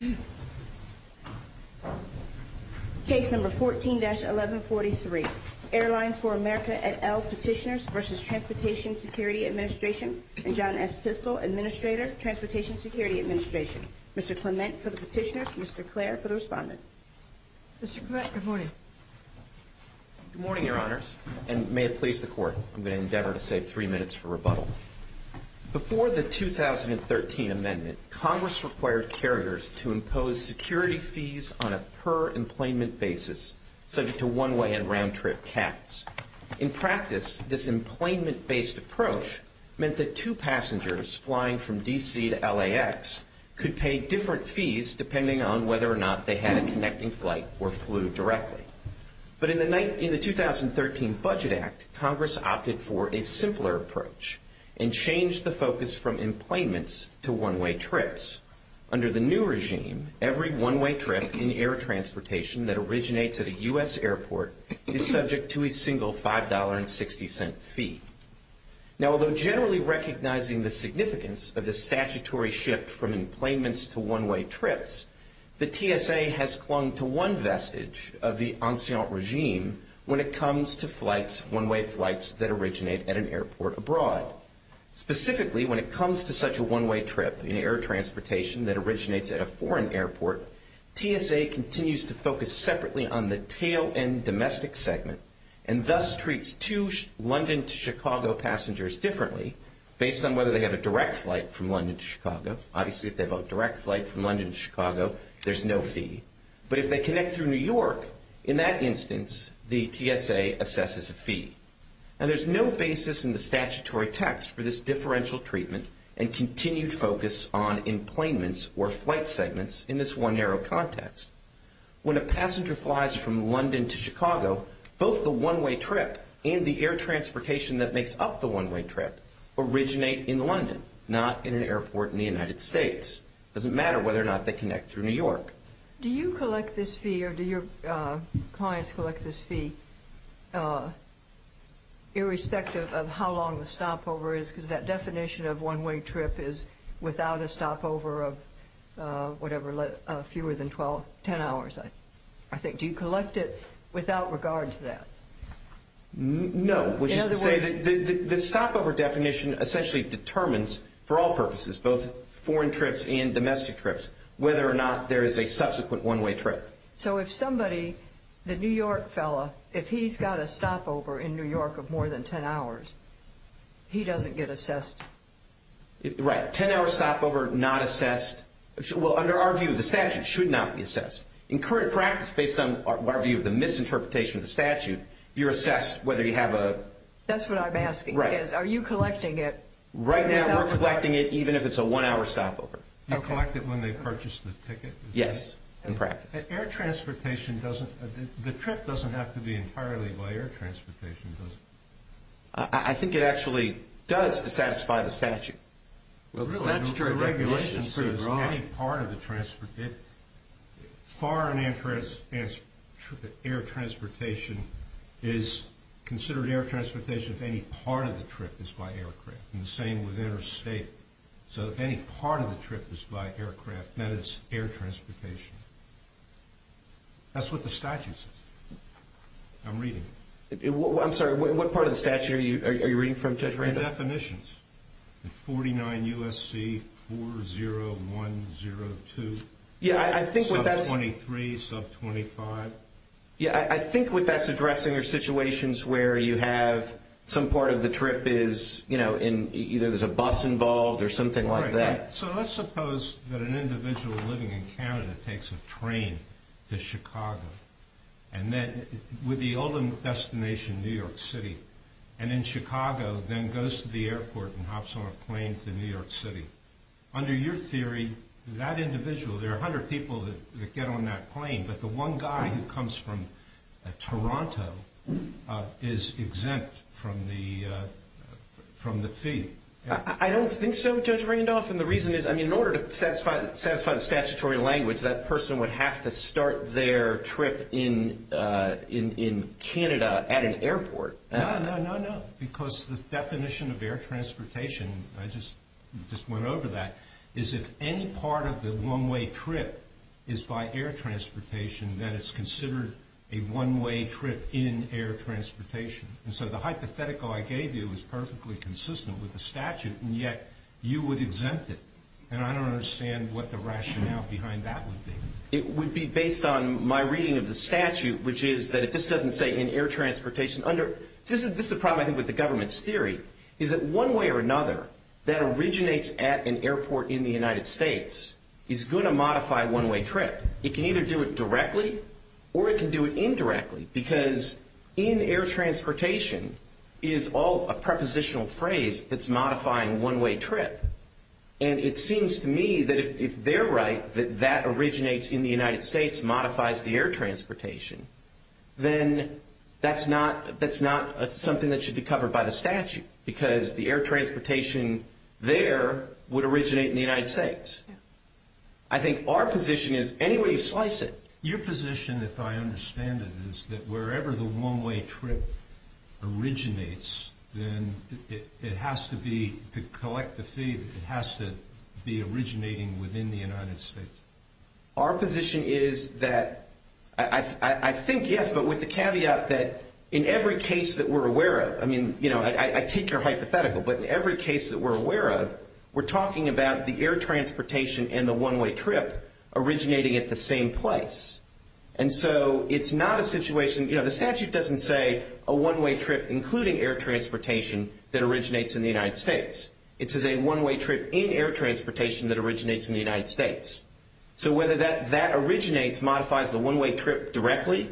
and John S. Pistole, Administrator, Transportation Security Administration. Mr. Clement for the Petitioners, Mr. Clare for the Respondents. Mr. Clement, good morning. Good morning, Your Honors, and may it please the Court, I'm going to endeavor to save three minutes for rebuttal. Before the 2013 Amendment, Congress required carriers to impose security fees on a per-employment basis, subject to one-way and round-trip caps. In practice, this employment-based approach meant that two passengers flying from D.C. to L.A.X. could pay different fees depending on whether or not they had a connecting flight or flew directly. But in the 2013 Budget Act, Congress opted for a simpler approach and changed the focus from employments to one-way trips. Under the new regime, every one-way trip in air transportation that originates at a U.S. airport is subject to a single $5.60 fee. Now, although generally recognizing the significance of the statutory shift from employments to one-way trips, the TSA has clung to one vestige of the ancient regime when it comes to one-way flights that originate at an airport abroad. Specifically, when it comes to such a one-way trip in air transportation that originates at a foreign airport, TSA continues to focus separately on the tail-end domestic segment and thus treats two London to Chicago passengers differently based on whether they have a direct flight from London to Chicago. Obviously, if they have a direct flight from London to Chicago, there's no fee. But if they connect through New York, in that instance, the TSA assesses a fee. Now, there's no basis in the statutory text for this differential treatment and continued focus on employments or flight segments in this one-arrow context. When a passenger flies from London to Chicago, both the one-way trip and the air transportation that makes up the one-way trip originate in London, not in an airport in the United States. It doesn't matter whether or not they connect through New York. Do you collect this fee or do your clients collect this fee irrespective of how long the stopover is? Because that definition of one-way trip is without a stopover of whatever, fewer than 10 hours, I think. Do you collect it without regard to that? No, which is to say that the stopover definition essentially determines for all purposes, both foreign trips and domestic trips, whether or not there is a subsequent one-way trip. So if somebody, the New York fellow, if he's got a stopover in New York of more than 10 hours, he doesn't get assessed? Right. 10-hour stopover, not assessed. Well, under our view, the statute should not be assessed. In current practice, based on our view of the misinterpretation of the statute, you're assessed whether you have a… That's what I'm asking. Right. Are you collecting it? Right now, we're collecting it even if it's a one-hour stopover. You collect it when they purchase the ticket? Yes, in practice. The trip doesn't have to be entirely by air transportation, does it? I think it actually does to satisfy the statute. Well, the statutory definition is pretty broad. The regulation says any part of the… Foreign air transportation is considered air transportation if any part of the trip is by aircraft. And the same with interstate. So if any part of the trip is by aircraft, then it's air transportation. That's what the statute says. I'm reading it. I'm sorry, what part of the statute are you reading from, Judge Randolph? Two definitions, 49 U.S.C. 40102. Yeah, I think what that's… Sub 23, sub 25. Yeah, I think what that's addressing are situations where you have some part of the trip is, you know, either there's a bus involved or something like that. So let's suppose that an individual living in Canada takes a train to Chicago, and then with the ultimate destination, New York City, and then Chicago then goes to the airport and hops on a plane to New York City. Under your theory, that individual, there are 100 people that get on that plane, but the one guy who comes from Toronto is exempt from the fee. I don't think so, Judge Randolph, and the reason is, I mean, in order to satisfy the statutory language, that person would have to start their trip in Canada at an airport. No, no, no, no, because the definition of air transportation, I just went over that, is if any part of the one-way trip is by air transportation, then it's considered a one-way trip in air transportation. And so the hypothetical I gave you is perfectly consistent with the statute, and yet you would exempt it. And I don't understand what the rationale behind that would be. It would be based on my reading of the statute, which is that if this doesn't say in air transportation under, this is the problem, I think, with the government's theory, is that one way or another that originates at an airport in the United States is going to modify one-way trip. It can either do it directly or it can do it indirectly, because in air transportation is all a prepositional phrase that's modifying one-way trip, and it seems to me that if they're right that that originates in the United States, modifies the air transportation, then that's not something that should be covered by the statute because the air transportation there would originate in the United States. I think our position is any way you slice it. Your position, if I understand it, is that wherever the one-way trip originates, then it has to be, to collect the fee, it has to be originating within the United States. Our position is that I think, yes, but with the caveat that in every case that we're aware of, I mean, you know, I take your hypothetical, but in every case that we're aware of, we're talking about the air transportation and the one-way trip originating at the same place. And so it's not a situation, you know, the statute doesn't say a one-way trip, it says including air transportation that originates in the United States. It says a one-way trip in air transportation that originates in the United States. So whether that originates, modifies the one-way trip directly,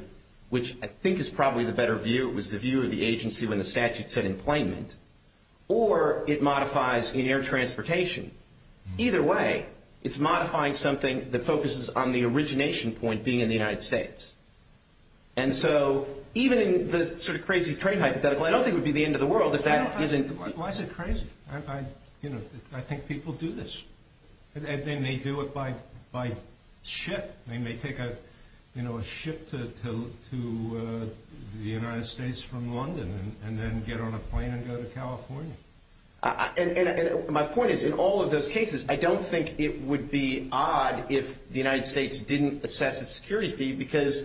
which I think is probably the better view, it was the view of the agency when the statute said employment, or it modifies in air transportation, either way, it's modifying something that focuses on the origination point being in the United States. And so even in the sort of crazy train hypothetical, I don't think it would be the end of the world if that isn't. Why is it crazy? You know, I think people do this. They may do it by ship. They may take a, you know, a ship to the United States from London and then get on a plane and go to California. And my point is, in all of those cases, I don't think it would be odd if the United States didn't assess a security fee, because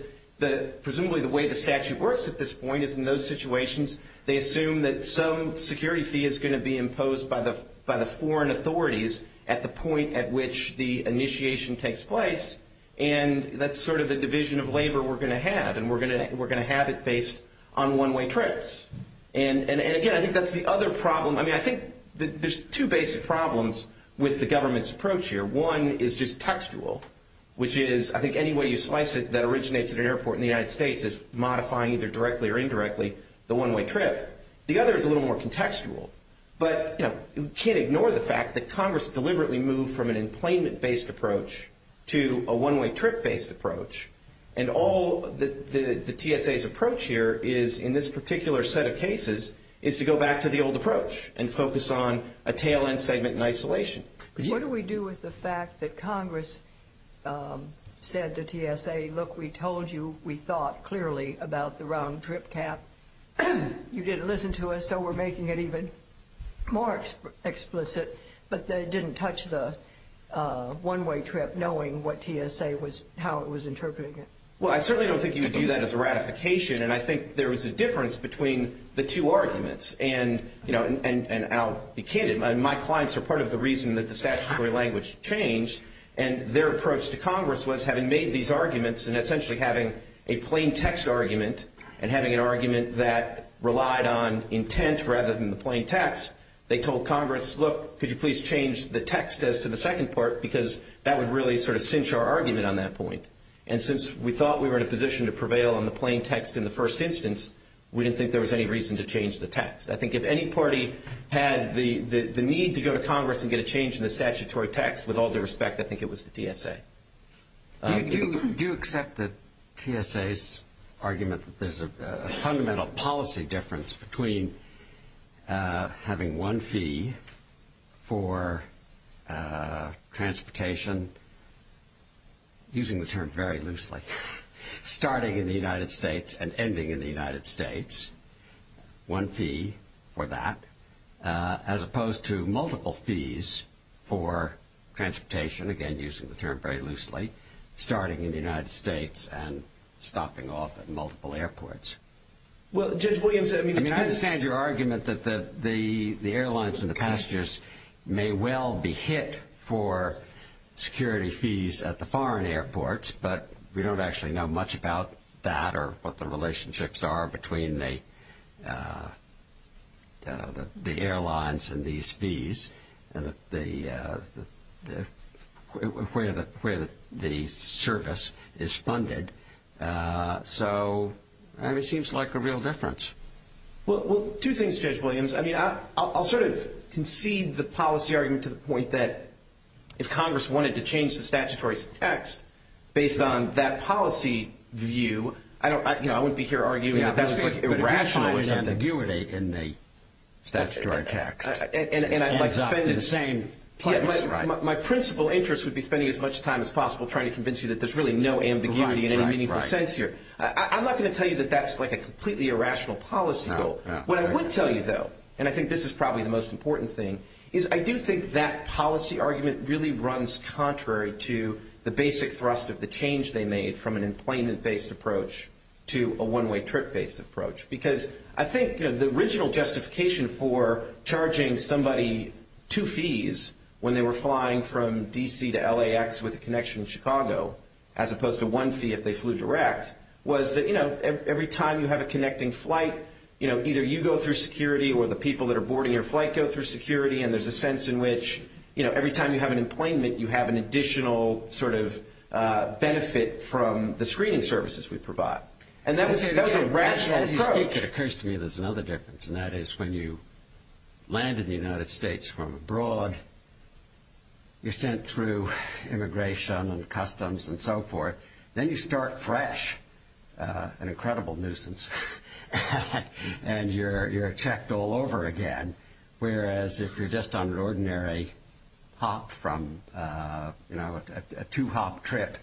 presumably the way the statute works at this point is in those situations, they assume that some security fee is going to be imposed by the foreign authorities at the point at which the initiation takes place, and that's sort of the division of labor we're going to have, and we're going to have it based on one-way trips. And again, I think that's the other problem. I mean, I think there's two basic problems with the government's approach here. One is just textual, which is, I think, any way you slice it that originates at an airport in the United States is modifying either directly or indirectly the one-way trip. The other is a little more contextual. But, you know, you can't ignore the fact that Congress deliberately moved from an employment-based approach to a one-way trip-based approach, and all the TSA's approach here is, in this particular set of cases, is to go back to the old approach and focus on a tail-end segment in isolation. What do we do with the fact that Congress said to TSA, look, we told you we thought clearly about the round-trip cap. You didn't listen to us, so we're making it even more explicit, but they didn't touch the one-way trip knowing what TSA was, how it was interpreting it. Well, I certainly don't think you would view that as a ratification, and I think there is a difference between the two arguments. And I'll be candid, my clients are part of the reason that the statutory language changed, and their approach to Congress was, having made these arguments and essentially having a plain text argument and having an argument that relied on intent rather than the plain text, they told Congress, look, could you please change the text as to the second part, because that would really sort of cinch our argument on that point. And since we thought we were in a position to prevail on the plain text in the first instance, we didn't think there was any reason to change the text. I think if any party had the need to go to Congress and get a change in the statutory text, with all due respect, I think it was the TSA. Do you accept that TSA's argument that there's a fundamental policy difference between having one fee for transportation, using the term very loosely, starting in the United States and ending in the United States, one fee for that, as opposed to multiple fees for transportation, again using the term very loosely, starting in the United States and stopping off at multiple airports? Well, Judge Williams, I mean... I understand your argument that the airlines and the passengers may well be hit for security fees at the foreign airports, but we don't actually know much about that or what the relationships are between the airlines and these fees and where the service is funded. So, I mean, it seems like a real difference. Well, two things, Judge Williams. I mean, I'll sort of concede the policy argument to the point that if Congress wanted to change the statutory text based on that policy view, I don't, you know, I wouldn't be here arguing that that's irrational or something. But if you show an ambiguity in the statutory text, it adds up in the same place, right? Yeah, my principal interest would be spending as much time as possible trying to convince you that there's really no ambiguity in any meaningful sense here. I'm not going to tell you that that's like a completely irrational policy goal. What I would tell you, though, and I think this is probably the most important thing, is I do think that policy argument really runs contrary to the basic thrust of the change they made from an employment-based approach to a one-way trip-based approach. Because I think, you know, the original justification for charging somebody two fees when they were flying from D.C. to LAX with a connection in Chicago, as opposed to one fee if they flew direct, was that, you know, every time you have a connecting flight, you know, either you go through security or the people that are boarding your flight go through security, and there's a sense in which, you know, every time you have an employment, you have an additional sort of benefit from the screening services we provide. And that was a rational approach. As you speak, it occurs to me there's another difference, and that is when you land in the United States from abroad, you're sent through immigration and customs and so forth. Then you start fresh, an incredible nuisance, and you're checked all over again, whereas if you're just on an ordinary hop from, you know, a two-hop trip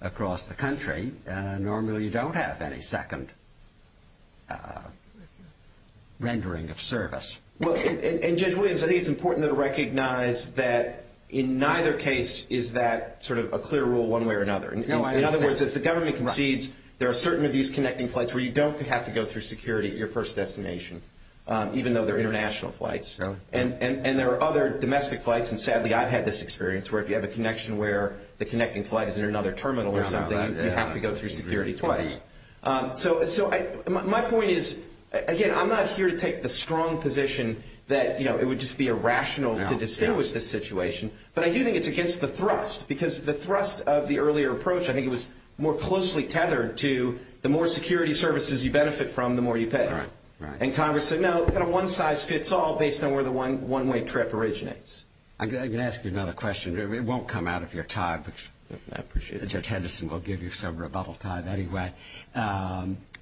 across the country, normally you don't have any second rendering of service. Well, and Judge Williams, I think it's important to recognize that in neither case is that sort of a clear rule one way or another. In other words, as the government concedes, there are certain of these connecting flights where you don't have to go through security at your first destination, even though they're international flights. And there are other domestic flights, and sadly I've had this experience, where if you have a connection where the connecting flight is in another terminal or something, you have to go through security twice. So my point is, again, I'm not here to take the strong position that, you know, it would just be irrational to distinguish this situation, but I do think it's against the thrust, because the thrust of the earlier approach, I think it was more closely tethered to the more security services you benefit from, the more you pay. And Congress said, No, we've got a one-size-fits-all based on where the one-way trip originates. I'm going to ask you another question. It won't come out of your time, but Judge Henderson will give you some rebuttal time anyway.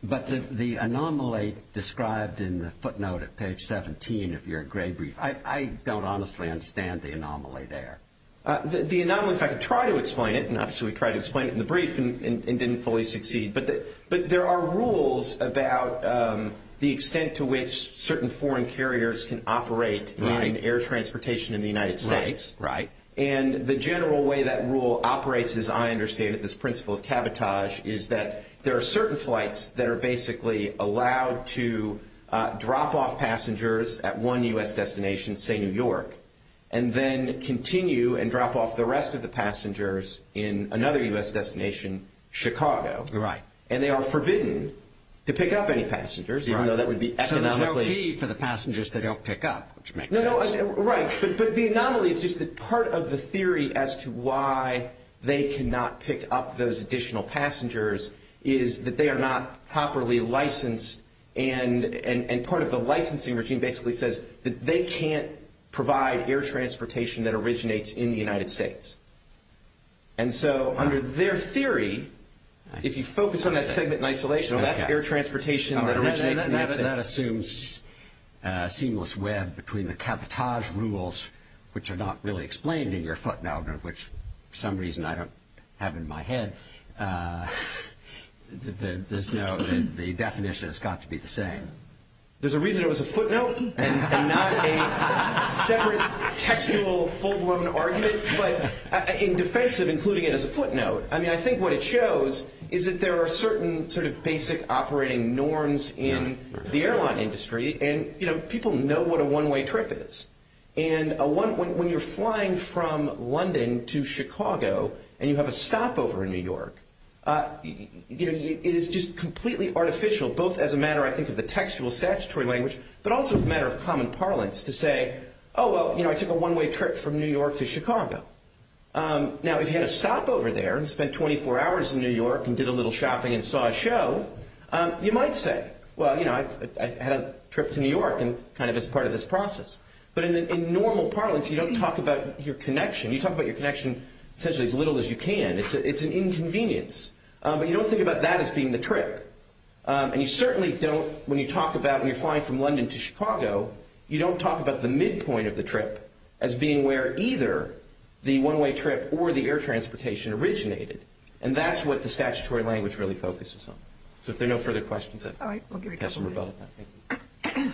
But the anomaly described in the footnote at page 17 of your gray brief, I don't honestly understand the anomaly there. The anomaly, in fact, I could try to explain it, and obviously we tried to explain it in the brief and didn't fully succeed. But there are rules about the extent to which certain foreign carriers can operate in air transportation in the United States. Right, right. And the general way that rule operates, as I understand it, this principle of cabotage, is that there are certain flights that are basically allowed to drop off passengers at one U.S. destination, say New York, and then continue and drop off the rest of the passengers in another U.S. destination, Chicago. Right. And they are forbidden to pick up any passengers, even though that would be economically – So there's no fee for the passengers they don't pick up, which makes sense. Right, but the anomaly is just that part of the theory as to why they cannot pick up those additional passengers is that they are not properly licensed, and part of the licensing regime basically says that they can't provide air transportation that originates in the United States. And so under their theory, if you focus on that segment in isolation, well, that's air transportation that originates in the United States. So that assumes a seamless web between the cabotage rules, which are not really explained in your footnote, which for some reason I don't have in my head, the definition has got to be the same. There's a reason it was a footnote and not a separate textual full-blown argument, but in defense of including it as a footnote, I mean, I think what it shows is that there are certain sort of basic operating norms in the airline industry, and people know what a one-way trip is. And when you're flying from London to Chicago and you have a stopover in New York, it is just completely artificial, both as a matter, I think, of the textual statutory language, but also as a matter of common parlance to say, oh, well, I took a one-way trip from New York to Chicago. Now, if you had a stopover there and spent 24 hours in New York and did a little shopping and saw a show, you might say, well, you know, I had a trip to New York and kind of as part of this process. But in normal parlance, you don't talk about your connection. You talk about your connection essentially as little as you can. It's an inconvenience. But you don't think about that as being the trip. And you certainly don't when you talk about when you're flying from London to Chicago, you don't talk about the midpoint of the trip as being where either the one-way trip or the air transportation originated. And that's what the statutory language really focuses on. So if there are no further questions, I'd like to have some rebuttal on that. Thank you.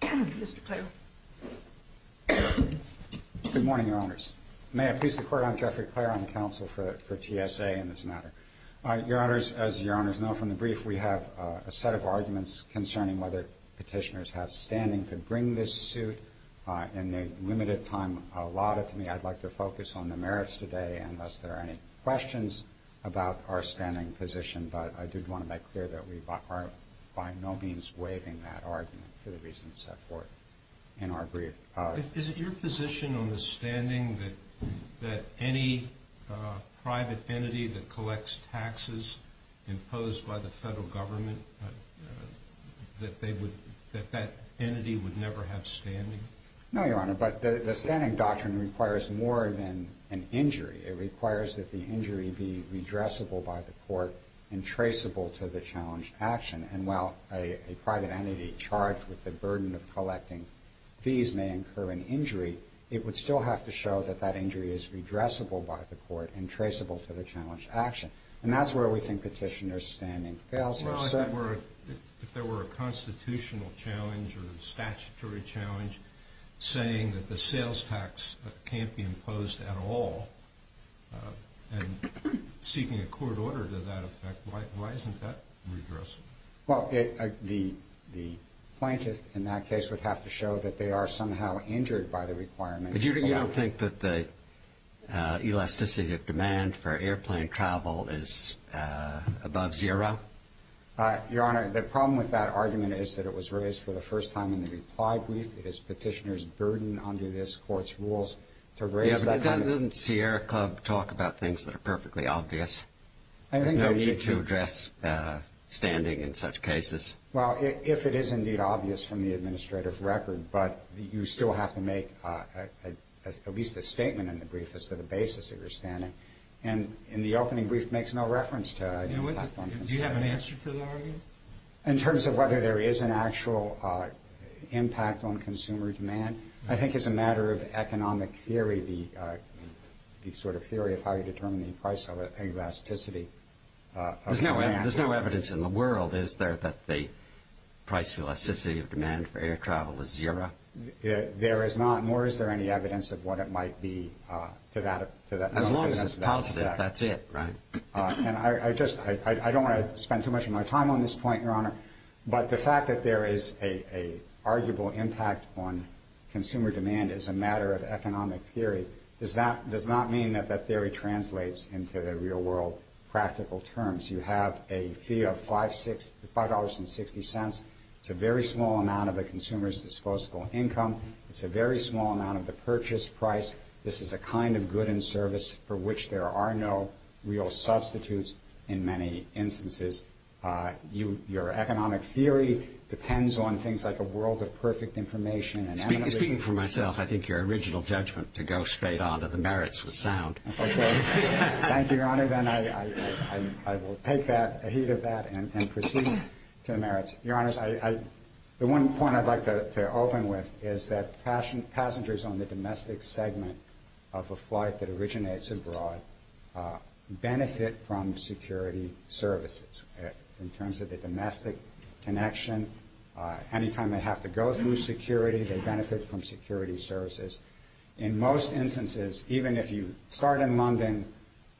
Mr. Clare. Good morning, Your Honors. May I please the Court? I'm Jeffrey Clare. I'm counsel for TSA in this matter. Your Honors, as Your Honors know from the brief, we have a set of arguments concerning whether Petitioners have standing to bring this suit in the limited time allotted to me. I'd like to focus on the merits today unless there are any questions about our standing position. But I did want to make clear that we are by no means waiving that argument for the reasons set forth in our brief. Is it your position on the standing that any private entity that collects taxes imposed by the federal government, that that entity would never have standing? No, Your Honor, but the standing doctrine requires more than an injury. It requires that the injury be redressable by the court and traceable to the challenged action. And while a private entity charged with the burden of collecting fees may incur an injury, it would still have to show that that injury is redressable by the court and traceable to the challenged action. And that's where we think Petitioner's standing fails here. If there were a constitutional challenge or a statutory challenge saying that the sales tax can't be imposed at all and seeking a court order to that effect, why isn't that redressable? Well, the plaintiff in that case would have to show that they are somehow injured by the requirement. But you don't think that the elasticity of demand for airplane travel is above zero? Your Honor, the problem with that argument is that it was raised for the first time in the reply brief. It is Petitioner's burden under this Court's rules to raise that kind of – Yeah, but doesn't Sierra Club talk about things that are perfectly obvious? There's no need to address standing in such cases. Well, if it is indeed obvious from the administrative record, but you still have to make at least a statement in the brief as to the basis of your standing. And in the opening brief makes no reference to impact on consumer demand. Do you have an answer to the argument? In terms of whether there is an actual impact on consumer demand, I think it's a matter of economic theory, the sort of theory of how you determine the price of elasticity of demand. There's no evidence in the world, is there, that the price of elasticity of demand for air travel is zero? There is not, nor is there any evidence of what it might be to that effect. As long as it's positive, that's it, right? I don't want to spend too much of my time on this point, Your Honor, but the fact that there is an arguable impact on consumer demand is a matter of economic theory. It does not mean that that theory translates into the real world practical terms. You have a fee of $5.60. It's a very small amount of a consumer's disposable income. It's a very small amount of the purchase price. This is a kind of good and service for which there are no real substitutes in many instances. Your economic theory depends on things like a world of perfect information. Speaking for myself, I think your original judgment to go straight on to the merits was sound. Okay. Thank you, Your Honor. Then I will take that, the heat of that, and proceed to the merits. Your Honors, the one point I'd like to open with is that passengers on the domestic segment of a flight that originates abroad benefit from security services. In terms of the domestic connection, anytime they have to go through security, they benefit from security services. In most instances, even if you start in London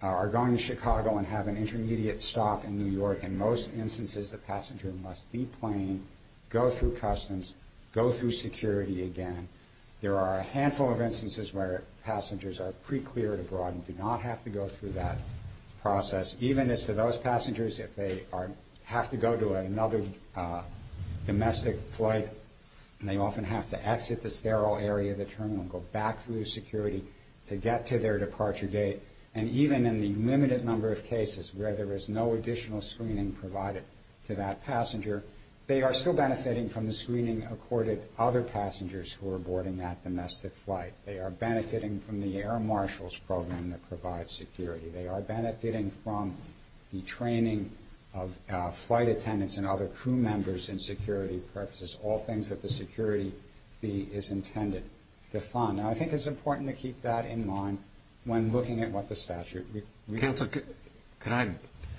or are going to Chicago and have an intermediate stop in New York, in most instances the passenger must deplane, go through customs, go through security again. There are a handful of instances where passengers are pre-cleared abroad and do not have to go through that process. Even as for those passengers, if they have to go to another domestic flight, they often have to exit the sterile area of the terminal and go back through security to get to their departure gate. And even in the limited number of cases where there is no additional screening provided to that passenger, they are still benefiting from the screening accorded to other passengers who are boarding that domestic flight. They are benefiting from the air marshals program that provides security. They are benefiting from the training of flight attendants and other crew members in security purposes, all things that the security fee is intended to fund. Now, I think it's important to keep that in mind when looking at what the statute requires. Counsel, could I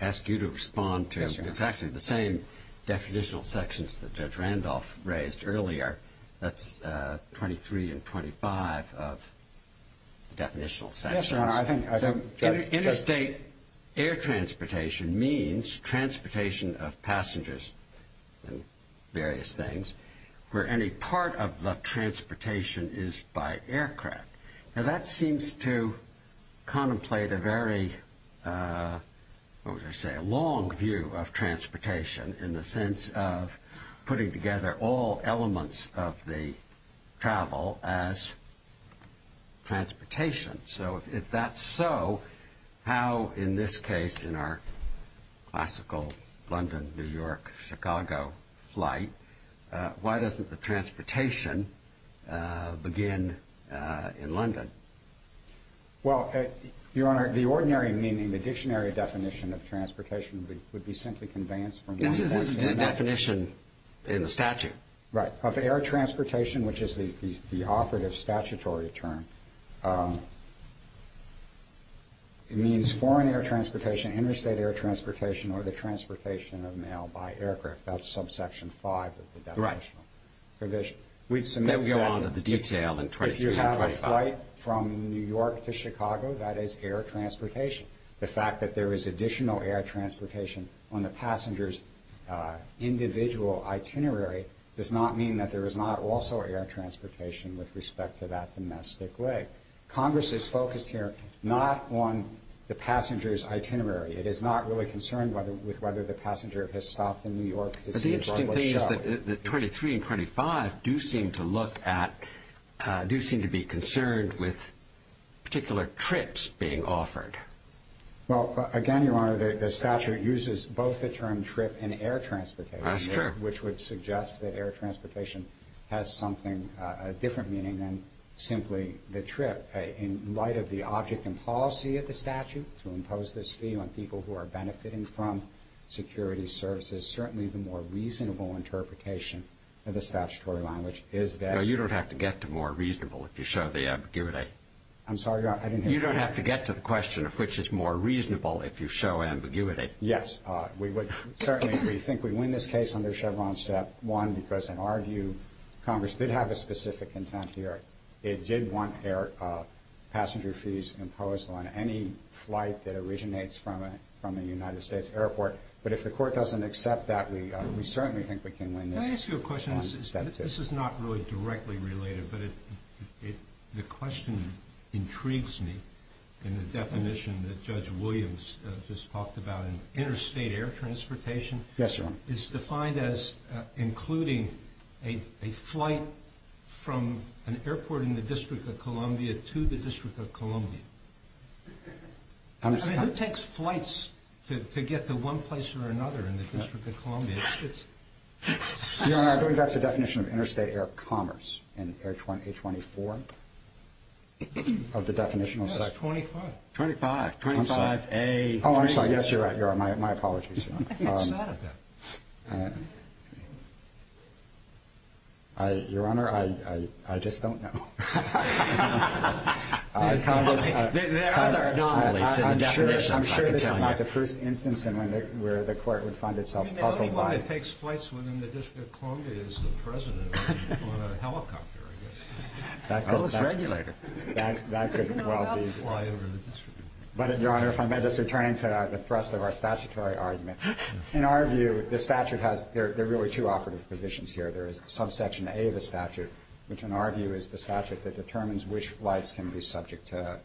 ask you to respond to exactly the same definitional sections that Judge Randolph raised earlier? That's 23 and 25 of definitional sections. Interstate air transportation means transportation of passengers and various things where any part of the transportation is by aircraft. Now, that seems to contemplate a very long view of transportation in the sense of putting together all elements of the travel as transportation. So if that's so, how in this case in our classical London, New York, Chicago flight, why doesn't the transportation begin in London? Well, Your Honor, the ordinary meaning, the dictionary definition of transportation would be simply conveyance from one point to another. Right. Of air transportation, which is the operative statutory term, it means foreign air transportation, interstate air transportation, or the transportation of mail by aircraft. That's subsection 5 of the definitional provision. Right. Then we go on to the detail in 23 and 25. If you have a flight from New York to Chicago, that is air transportation. The fact that there is additional air transportation on the passenger's individual itinerary does not mean that there is not also air transportation with respect to that domestic leg. Congress is focused here not on the passenger's itinerary. It is not really concerned with whether the passenger has stopped in New York to see a Broadway show. It seems that 23 and 25 do seem to look at, do seem to be concerned with particular trips being offered. Well, again, Your Honor, the statute uses both the term trip and air transportation. That's true. Which would suggest that air transportation has something, a different meaning than simply the trip. In light of the object and policy of the statute to impose this fee on people who are benefiting from security services, certainly the more reasonable interpretation of the statutory language is that- No, you don't have to get to more reasonable if you show the ambiguity. I'm sorry, Your Honor, I didn't hear you. You don't have to get to the question of which is more reasonable if you show ambiguity. Yes, we would certainly, we think we win this case under Chevron's step one because, in our view, Congress did have a specific intent here. It did want passenger fees imposed on any flight that originates from a United States airport. But if the court doesn't accept that, we certainly think we can win this- Can I ask you a question? This is not really directly related, but the question intrigues me in the definition that Judge Williams just talked about. Interstate air transportation- Yes, Your Honor. Is defined as including a flight from an airport in the District of Columbia to the District of Columbia. I mean, who takes flights to get to one place or another in the District of Columbia? Your Honor, I believe that's the definition of interstate air commerce in A24 of the definitional section. No, it's 25. 25. 25A3. Oh, I'm sorry. Yes, you're right. You're right. My apologies, Your Honor. What's that about? Your Honor, I just don't know. There are other anomalies in the definition. I'm sure this is not the first instance where the court would find itself puzzled by- I mean, the only one that takes flights within the District of Columbia is the President on a helicopter, I guess. Or his regulator. That could well be- No, that would fly over the District of Columbia. But, Your Honor, if I may, just returning to the thrust of our statutory argument. In our view, the statute has- there are really two operative provisions here. There is subsection A of the statute, which in our view is the statute that determines which flights can be subject to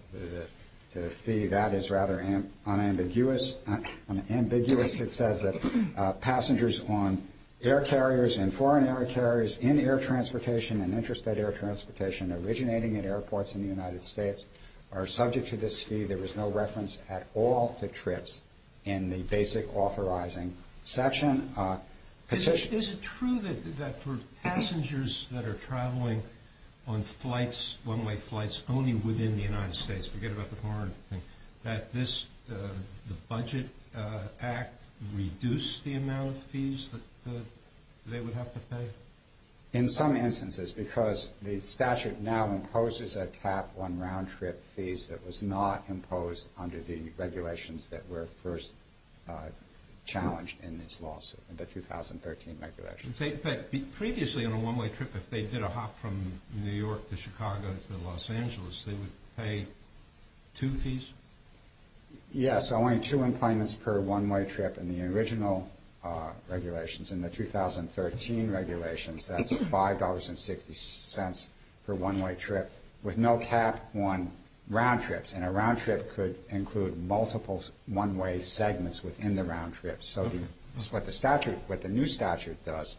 the fee. That is rather unambiguous. It says that passengers on air carriers and foreign air carriers in air transportation and interstate air transportation originating in airports in the United States are subject to this fee. There is no reference at all to trips in the basic authorizing section. Is it true that for passengers that are traveling on flights- one-way flights only within the United States- forget about the foreign thing- that this- the Budget Act reduced the amount of fees that they would have to pay? In some instances, because the statute now imposes a cap on round-trip fees that was not imposed under the regulations that were first challenged in this lawsuit, the 2013 regulations. But previously on a one-way trip, if they did a hop from New York to Chicago to Los Angeles, they would pay two fees? Yes, only two implements per one-way trip in the original regulations. In the 2013 regulations, that's $5.60 for one-way trip with no cap on round trips. And a round trip could include multiple one-way segments within the round trip. So what the statute- what the new statute does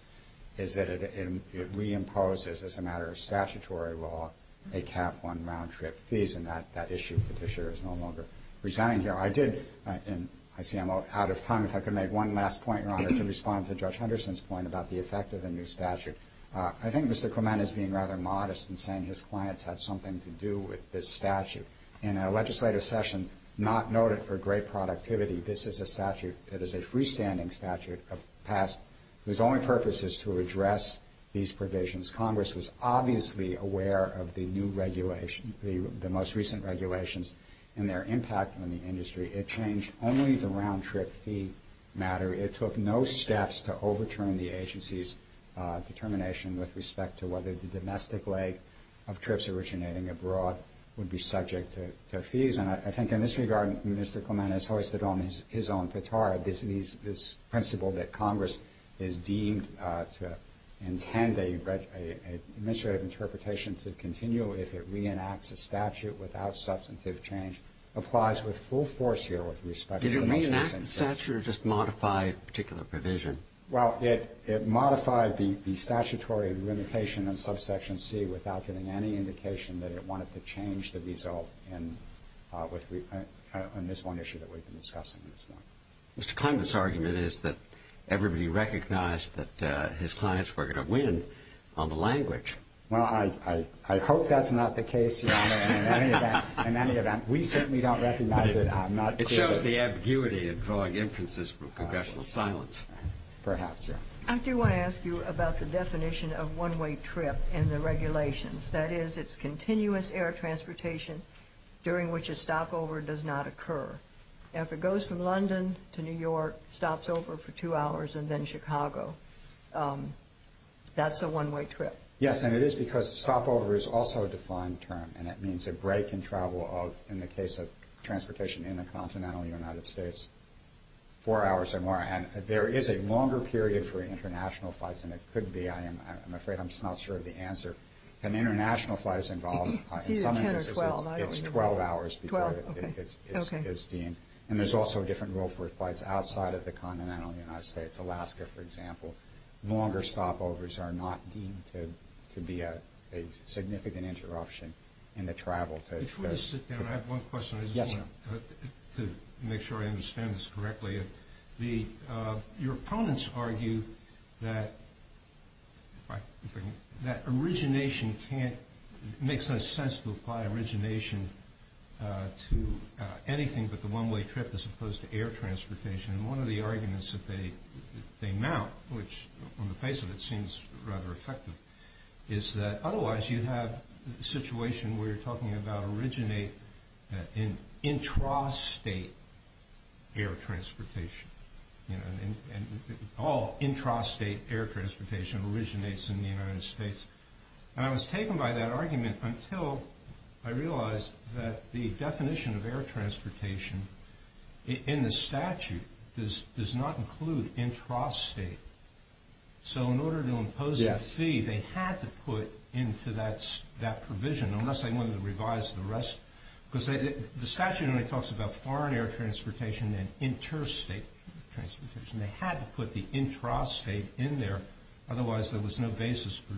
is that it reimposes, as a matter of statutory law, a cap on round-trip fees. And that issue, Petitioner, is no longer presenting here. I did- and I see I'm out of time, if I could make one last point, Your Honor, to respond to Judge Henderson's point about the effect of the new statute. I think Mr. Clement is being rather modest in saying his clients had something to do with this statute. In a legislative session not noted for great productivity, this is a statute that is a freestanding statute of past- whose only purpose is to address these provisions. Congress was obviously aware of the new regulation- the most recent regulations and their impact on the industry. It changed only the round-trip fee matter. It took no steps to overturn the agency's determination with respect to whether the domestic leg of trips originating abroad would be subject to fees. And I think in this regard, Mr. Clement has hoisted on his own petard this principle that Congress is deemed to intend an administrative interpretation to continue if it reenacts a statute without substantive change. And I think this applies with full force here with respect to the most recent statute. Did it reenact the statute or just modify a particular provision? Well, it modified the statutory limitation in Subsection C without giving any indication that it wanted to change the result in this one issue that we've been discussing at this point. Mr. Clement's argument is that everybody recognized that his clients were going to win on the language. Well, I hope that's not the case, Your Honor. In any event, we certainly don't recognize it. It shows the ambiguity and vague inferences from Congressional silence. Perhaps. I do want to ask you about the definition of one-way trip in the regulations. That is, it's continuous air transportation during which a stopover does not occur. If it goes from London to New York, stops over for two hours, and then Chicago, that's a one-way trip. Yes, and it is because stopover is also a defined term, and it means a break in travel of, in the case of transportation in the continental United States, four hours or more. And there is a longer period for international flights than it could be. I'm afraid I'm just not sure of the answer. If an international flight is involved, in some instances it's 12 hours. And there's also a different rule for flights outside of the continental United States. Alaska, for example. Longer stopovers are not deemed to be a significant interruption in the travel. Before I sit down, I have one question. I just want to make sure I understand this correctly. Your opponents argue that origination makes no sense to apply origination to anything but the one-way trip as opposed to air transportation. And one of the arguments that they mount, which on the face of it seems rather effective, is that otherwise you have a situation where you're talking about originate in intrastate air transportation. All intrastate air transportation originates in the United States. And I was taken by that argument until I realized that the definition of air transportation in the statute does not include intrastate. So in order to impose a fee, they had to put into that provision, unless they wanted to revise the rest. Because the statute only talks about foreign air transportation and interstate transportation. They had to put the intrastate in there, otherwise there was no basis for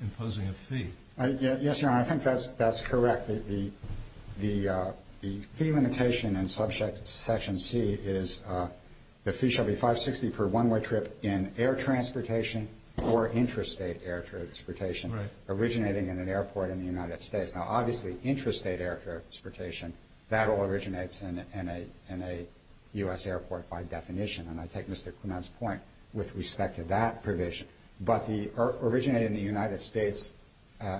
imposing a fee. Yes, Your Honor, I think that's correct. The fee limitation in Subsection C is the fee shall be 560 per one-way trip in air transportation or intrastate air transportation originating in an airport in the United States. Now, obviously, intrastate air transportation, that all originates in a U.S. airport by definition. And I take Mr. Clement's point with respect to that provision. But the originating in the United States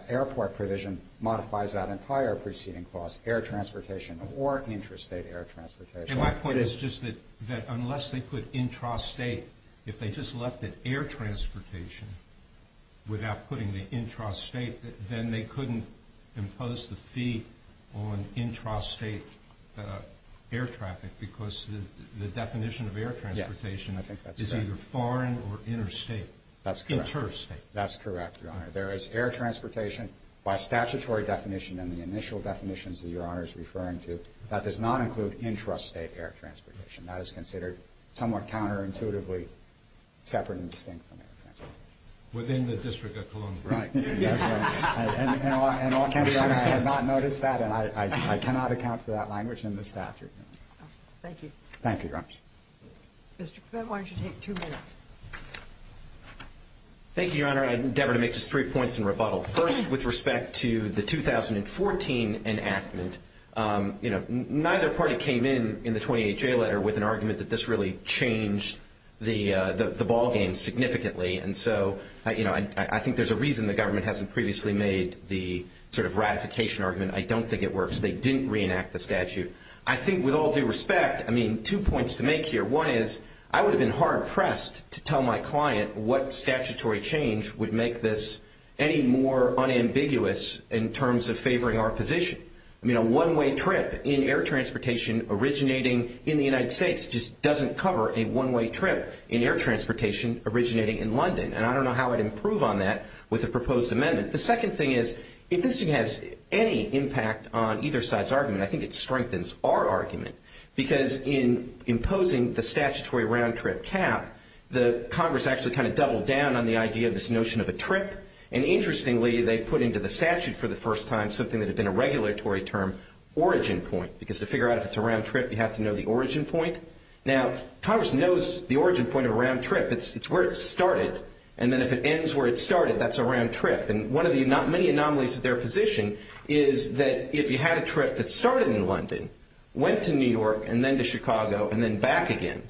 airport provision modifies that entire preceding clause, air transportation or intrastate air transportation. And my point is just that unless they put intrastate, if they just left it air transportation without putting the intrastate, then they couldn't impose the fee on intrastate air traffic because the definition of air transportation is either foreign or interstate. That's correct, Your Honor. There is air transportation by statutory definition in the initial definitions that Your Honor is referring to that does not include intrastate air transportation. That is considered somewhat counterintuitively separate and distinct from air transportation. Within the District of Columbia. Right. And I cannot account for that language in the statute. Thank you. Thank you, Your Honor. Mr. Clement, why don't you take two minutes? Thank you, Your Honor. Your Honor, I endeavor to make just three points in rebuttal. First, with respect to the 2014 enactment, you know, neither party came in in the 28-J letter with an argument that this really changed the ballgame significantly. And so, you know, I think there's a reason the government hasn't previously made the sort of ratification argument. I don't think it works. They didn't reenact the statute. I think with all due respect, I mean, two points to make here. One is I would have been hard-pressed to tell my client what statutory change would make this any more unambiguous in terms of favoring our position. I mean, a one-way trip in air transportation originating in the United States just doesn't cover a one-way trip in air transportation originating in London. And I don't know how I'd improve on that with a proposed amendment. The second thing is if this thing has any impact on either side's argument, I think it strengthens our argument. Because in imposing the statutory round-trip cap, the Congress actually kind of doubled down on the idea of this notion of a trip. And interestingly, they put into the statute for the first time something that had been a regulatory term, origin point. Because to figure out if it's a round trip, you have to know the origin point. Now, Congress knows the origin point of a round trip. It's where it started. And then if it ends where it started, that's a round trip. And one of the many anomalies of their position is that if you had a trip that started in London, went to New York, and then to Chicago, and then back again,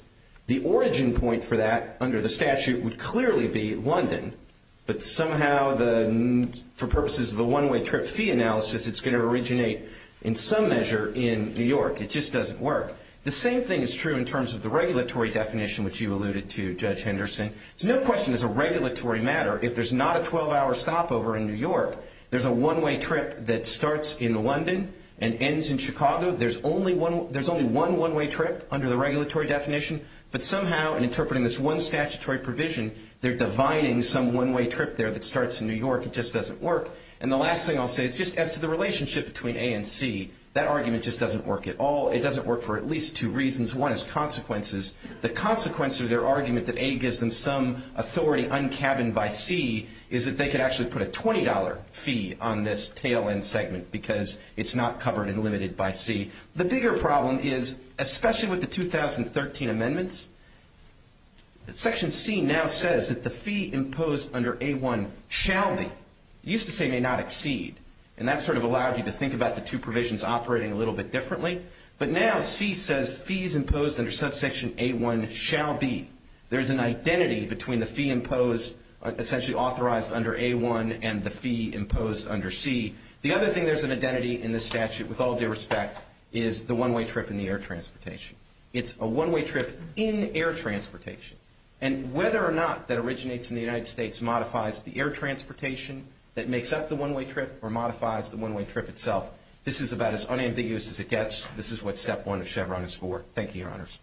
the origin point for that under the statute would clearly be London. But somehow, for purposes of the one-way trip fee analysis, it's going to originate in some measure in New York. It just doesn't work. The same thing is true in terms of the regulatory definition, which you alluded to, Judge Henderson. It's no question it's a regulatory matter. If there's not a 12-hour stopover in New York, there's a one-way trip that starts in London and ends in Chicago. There's only one one-way trip under the regulatory definition. But somehow, in interpreting this one statutory provision, they're divining some one-way trip there that starts in New York. It just doesn't work. And the last thing I'll say is just as to the relationship between A and C, that argument just doesn't work at all. It doesn't work for at least two reasons. One is consequences. The consequence of their argument that A gives them some authority un-cabined by C is that they could actually put a $20 fee on this tail-end segment, because it's not covered and limited by C. The bigger problem is, especially with the 2013 amendments, that Section C now says that the fee imposed under A1 shall be. It used to say may not exceed, and that sort of allowed you to think about the two provisions operating a little bit differently. But now C says fees imposed under subsection A1 shall be. There's an identity between the fee imposed, essentially authorized under A1, and the fee imposed under C. The other thing there's an identity in this statute, with all due respect, is the one-way trip in the air transportation. It's a one-way trip in air transportation. And whether or not that originates in the United States modifies the air transportation that makes up the one-way trip or modifies the one-way trip itself, this is about as unambiguous as it gets. This is what Step 1 of Chevron is for. Thank you, Your Honors.